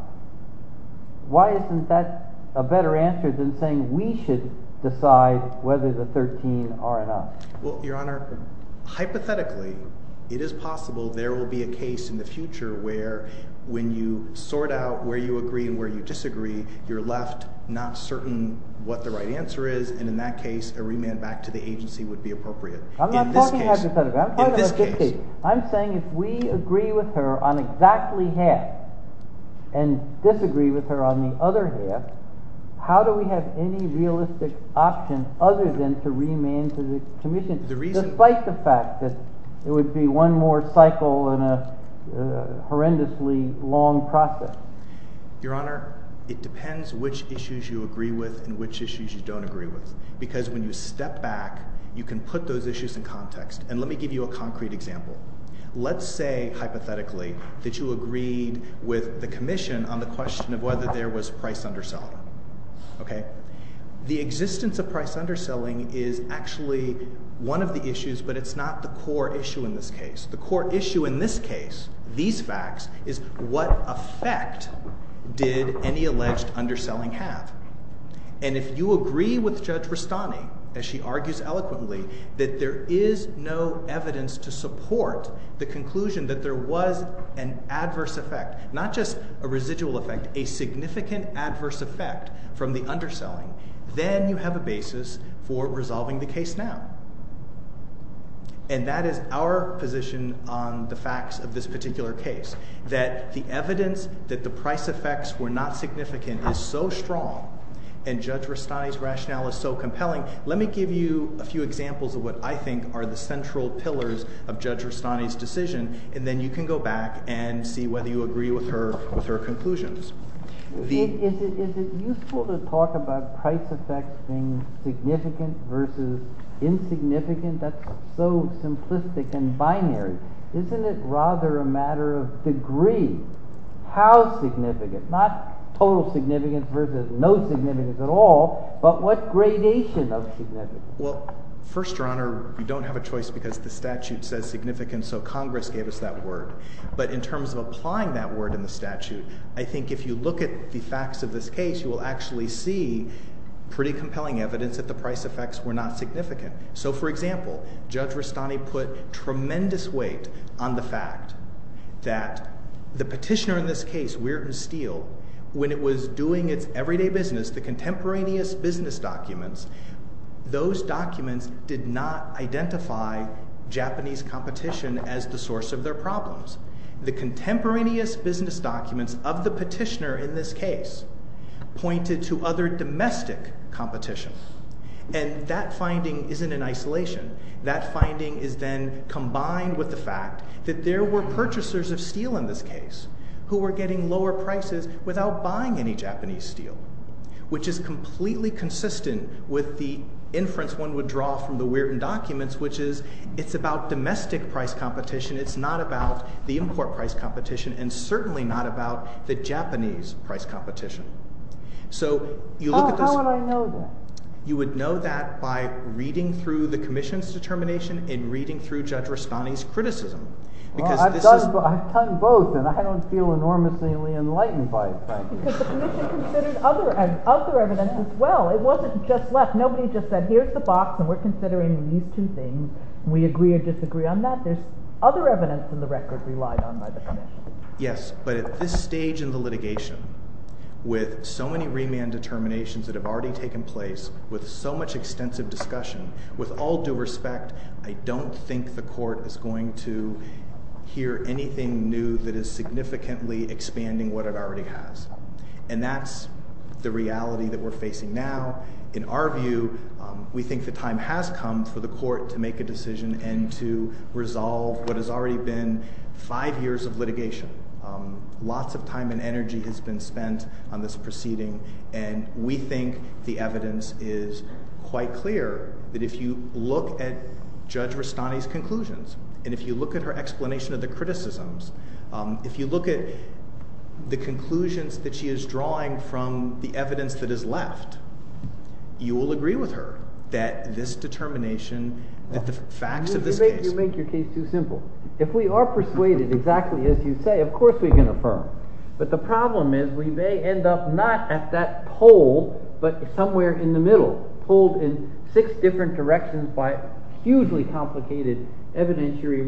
Why isn't that a better answer than saying we should decide whether the 13 are enough? Well, Your Honor, hypothetically, it is possible there will be a case in the future where when you sort out where you agree and where you disagree, you're left not certain what the right answer is, and in that case, a remand back to the agency would be appropriate. I'm not talking hypothetically. In this case. I'm saying if we agree with her on exactly half and disagree with her on the other half, how do we have any realistic option other than to remand to the Commission, despite the fact that it would be one more cycle in a horrendously long process? Your Honor, it depends which issues you agree with and which issues you don't agree with, because when you step back, you can put those issues in context, and let me give you a concrete example. Let's say, hypothetically, that you agreed with the Commission on the question of whether there was price undersell. Okay? The existence of price underselling is actually one of the issues, but it's not the core issue in this case. The core issue in this case, these facts, is what effect did any alleged underselling have? And if you agree with Judge Rastani, as she argues eloquently, that there is no evidence to support the conclusion that there was an adverse effect, not just a residual effect, a significant adverse effect from the underselling, then you have a basis for resolving the case now. And that is our position on the facts of this particular case, that the evidence that the price effects were not significant is so strong, and Judge Rastani's rationale is so compelling. Let me give you a few examples of what I think are the central pillars of Judge Rastani's decision, and then you can go back and see whether you agree with her conclusions. Is it useful to talk about price effects being significant versus insignificant? That's so simplistic and binary. Isn't it rather a matter of degree? How significant? Not total significance versus no significance at all, but what gradation of significance? Well, first, Your Honor, we don't have a choice because the statute says significant, so Congress gave us that word. But in terms of applying that word in the statute, I think if you look at the facts of this case, you will actually see pretty compelling evidence that the price effects were not significant. So, for example, Judge Rastani put tremendous weight on the fact that the petitioner in this case, Weirton Steele, when it was doing its everyday business, the contemporaneous business documents, those documents did not identify Japanese competition as the source of their problems. The contemporaneous business documents of the petitioner in this case pointed to other domestic competition, and that finding isn't in isolation. That finding is then combined with the fact that there were purchasers of steel in this case who were getting lower prices without buying any Japanese steel, which is completely consistent with the inference one would draw from the Weirton documents, which is it's about domestic price competition. It's not about the import price competition, and certainly not about the Japanese price competition. So, you look at this... How would I know that? You would know that by reading through the Commission's determination and reading through Judge Rastani's criticism. Well, I've done both, and I don't feel enormously enlightened by it, thank you. Because the Commission considered other evidence as well. It wasn't just left. Nobody just said, Here's the box, and we're considering these two things. We agree or disagree on that. There's other evidence in the record relied on by the Commission. Yes, but at this stage in the litigation, with so many remand determinations that have already taken place, with so much extensive discussion, with all due respect, I don't think the Court is going to hear anything new that is significantly expanding what it already has. And that's the reality that we're facing now. In our view, we think the time has come for the Court to make a decision and to resolve what has already been five years of litigation. Lots of time and energy has been spent on this proceeding, and we think the evidence is quite clear that if you look at Judge Rastani's conclusions and if you look at her explanation of the criticisms, if you look at the conclusions that she is drawing from the evidence that is left, you will agree with her that this determination, that the facts of this case— You make your case too simple. If we are persuaded exactly as you say, of course we can affirm. But the problem is we may end up not at that pole, but somewhere in the middle, pulled in six different directions by hugely complicated evidentiary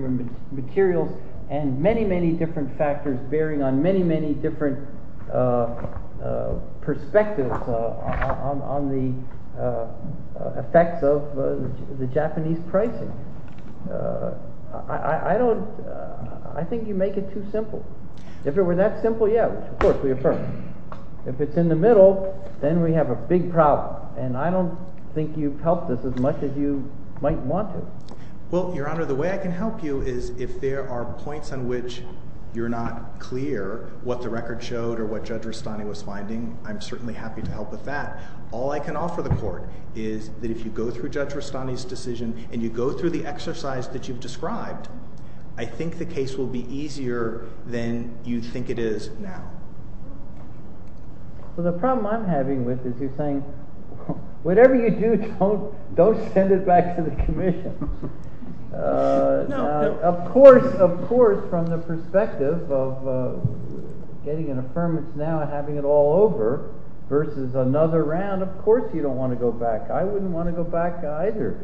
materials and many, many different factors bearing on many, many different perspectives on the effects of the Japanese pricing. I think you make it too simple. If it were that simple, yeah, of course we affirm. If it's in the middle, then we have a big problem. And I don't think you've helped us as much as you might want to. Well, Your Honor, the way I can help you is if there are points on which you're not clear what the record showed or what Judge Rastani was finding, I'm certainly happy to help with that. All I can offer the Court is that if you go through Judge Rastani's decision and you go through the exercise that you've described, I think the case will be easier than you think it is now. Well, the problem I'm having with this is saying whatever you do, don't send it back to the Commission. Of course, of course, from the perspective of getting an affirmance now and having it all over versus another round, of course you don't want to go back. I wouldn't want to go back either.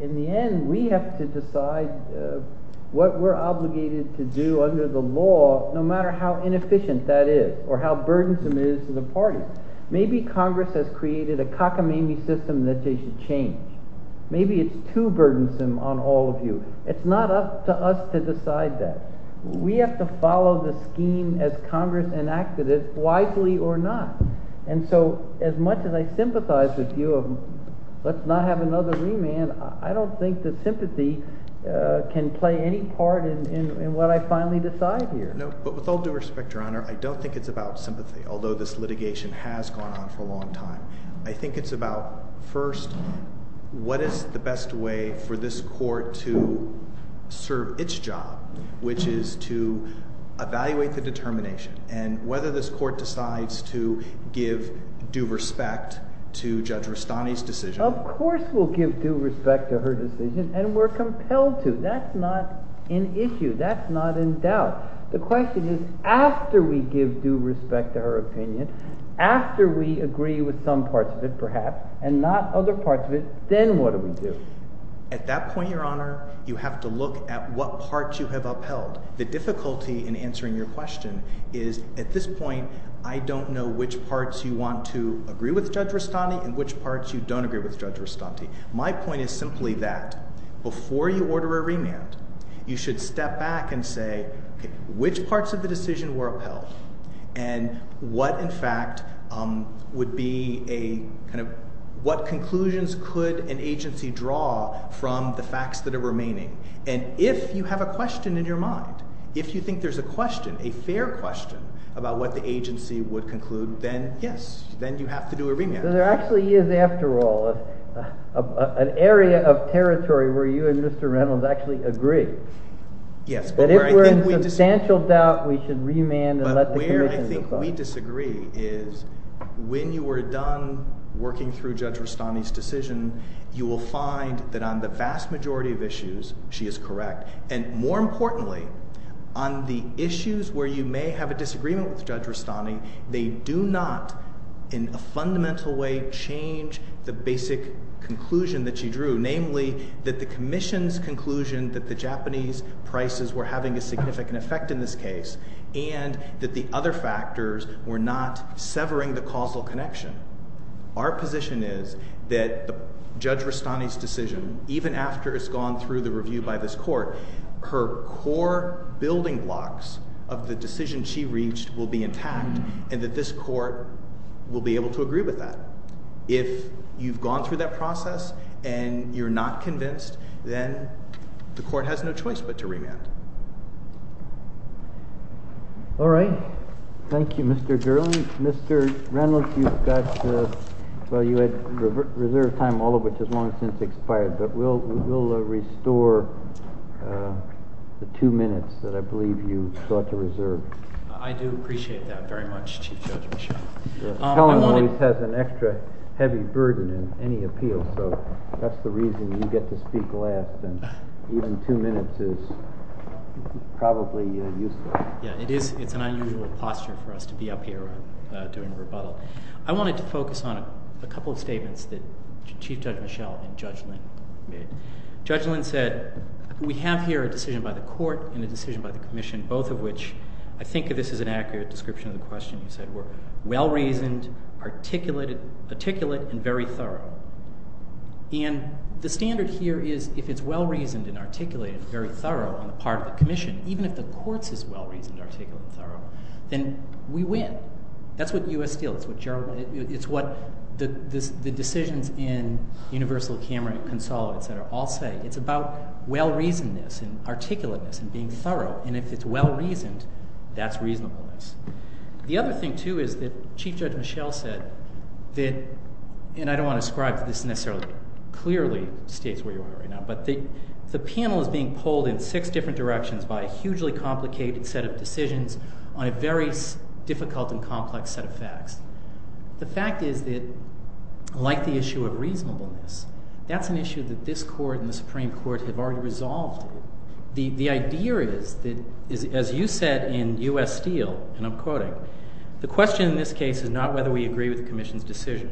In the end, we have to decide what we're obligated to do under the law no matter how inefficient that is or how burdensome it is to the party. Maybe Congress has created a cockamamie system that they should change. Maybe it's too burdensome on all of you. It's not up to us to decide that. We have to follow the scheme as Congress enacted it, wisely or not. And so as much as I sympathize with you of let's not have another remand, I don't think that sympathy can play any part in what I finally decide here. No, but with all due respect, Your Honor, I don't think it's about sympathy, although this litigation has gone on for a long time. I think it's about, first, what is the best way for this court to serve its job, which is to evaluate the determination and whether this court decides to give due respect to Judge Rustani's decision. Of course we'll give due respect to her decision and we're compelled to. That's not an issue. That's not in doubt. The question is after we give due respect to her opinion, after we agree with some parts of it, perhaps, and not other parts of it, then what do we do? At that point, Your Honor, you have to look at what parts you have upheld. The difficulty in answering your question is at this point, I don't know which parts you want to agree with Judge Rustani and which parts you don't agree with Judge Rustani. My point is simply that you should step back and say, which parts of the decision were upheld and what, in fact, would be a kind of, what conclusions could an agency draw from the facts that are remaining? And if you have a question in your mind, if you think there's a question, a fair question, about what the agency would conclude, then, yes, then you have to do a remand. There actually is, after all, an area of territory where you and Mr. Reynolds actually agree that if we're in substantial doubt, we should remand and let the commission decide. But where I think we disagree is when you are done working through Judge Rustani's decision, you will find that on the vast majority of issues, she is correct. And more importantly, on the issues where you may have a disagreement with Judge Rustani, they do not, in a fundamental way, change the basic conclusion that she drew, namely that the commission's conclusion that the Japanese prices were having a significant effect in this case and that the other factors were not severing the causal connection. Our position is that Judge Rustani's decision, even after it's gone through the review by this court, her core building blocks of the decision she reached will be intact and that this court will be able to agree with that. If you've gone through that process and you're not convinced, then the court has no choice but to remand. All right. Thank you, Mr. Gerland. Mr. Reynolds, you've got... Well, you had reserved time, all of which has long since expired, but we'll restore the two minutes that I believe you sought to reserve. I do appreciate that very much, Chief Judge Michell. The felon always has an extra heavy burden in any appeal, so that's the reason you get to speak last, and even two minutes is probably useless. Yeah, it's an unusual posture for us to be up here doing a rebuttal. I wanted to focus on a couple of statements that Chief Judge Michell and Judge Lind made. Judge Lind said, we have here a decision by the court and a decision by the commission, both of which, I think of this as an accurate description of the question you said, were well-reasoned, articulate, and very thorough. And the standard here is if it's well-reasoned and articulated, very thorough on the part of the commission, even if the court's is well-reasoned, articulate, and thorough, then we win. That's what U.S. Steel, it's what the decisions in Universal, Cameron, Consolo, etc., all say. It's about well-reasonedness and articulateness and being thorough, and if it's well-reasoned, that's reasonableness. The other thing, too, is that Chief Judge Michell said that, and I don't want to ascribe to this necessarily, clearly states where you are right now, but the panel is being pulled in six different directions by a hugely complicated set of decisions on a very difficult and complex set of facts. The fact is that, like the issue of reasonableness, that's an issue that this court and the Supreme Court have already resolved. The idea is that, as you said in U.S. Steel, and I'm quoting, the question in this case is not whether we agree with the Commission's decision,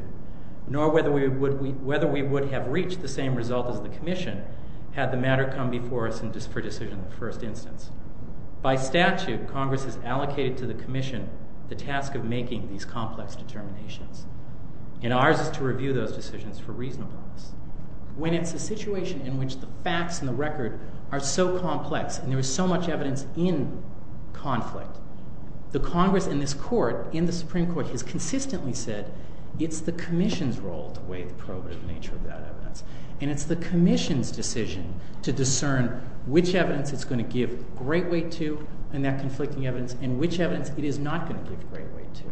nor whether we would have reached the same result as the Commission had the matter come before us for decision in the first instance. By statute, Congress has allocated to the Commission the task of making these complex determinations, and ours is to review those decisions for reasonableness. When it's a situation in which the facts and the record are so complex and there is so much evidence in conflict, the Congress in this court, has consistently said it's the Commission's role to weigh the probative nature of that evidence. And it's the Commission's decision to discern which evidence it's going to give great weight to in that conflicting evidence and which evidence it is not going to give great weight to.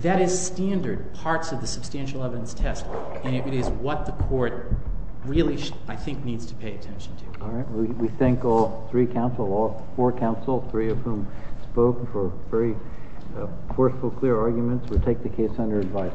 That is standard parts of the substantial evidence test, and it is what the court really, I think, needs to pay attention to. All right. We thank all three counsel, all four counsel, three of whom spoke for very forceful, clear arguments. We take the case under advice.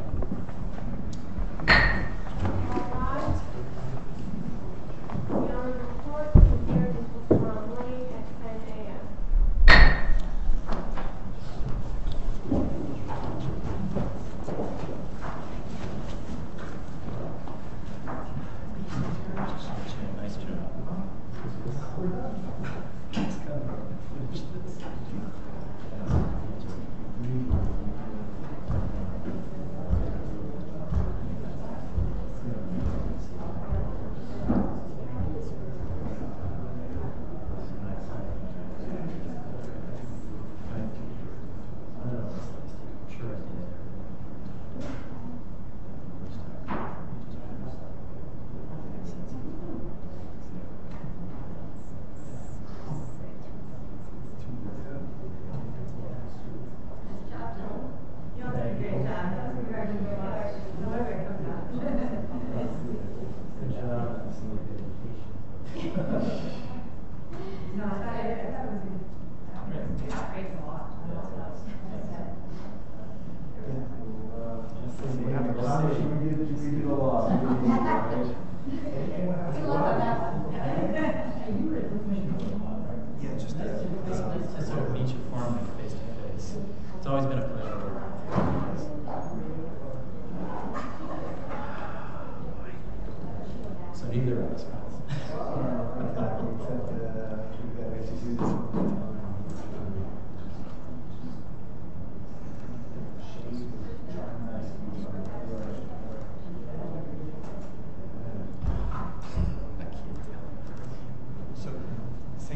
Thank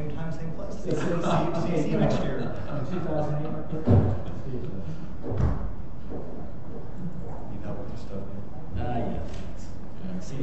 you. Thank you. You got all your stuff? No, I didn't. See you later. Take care. All right. All right. All right. All right.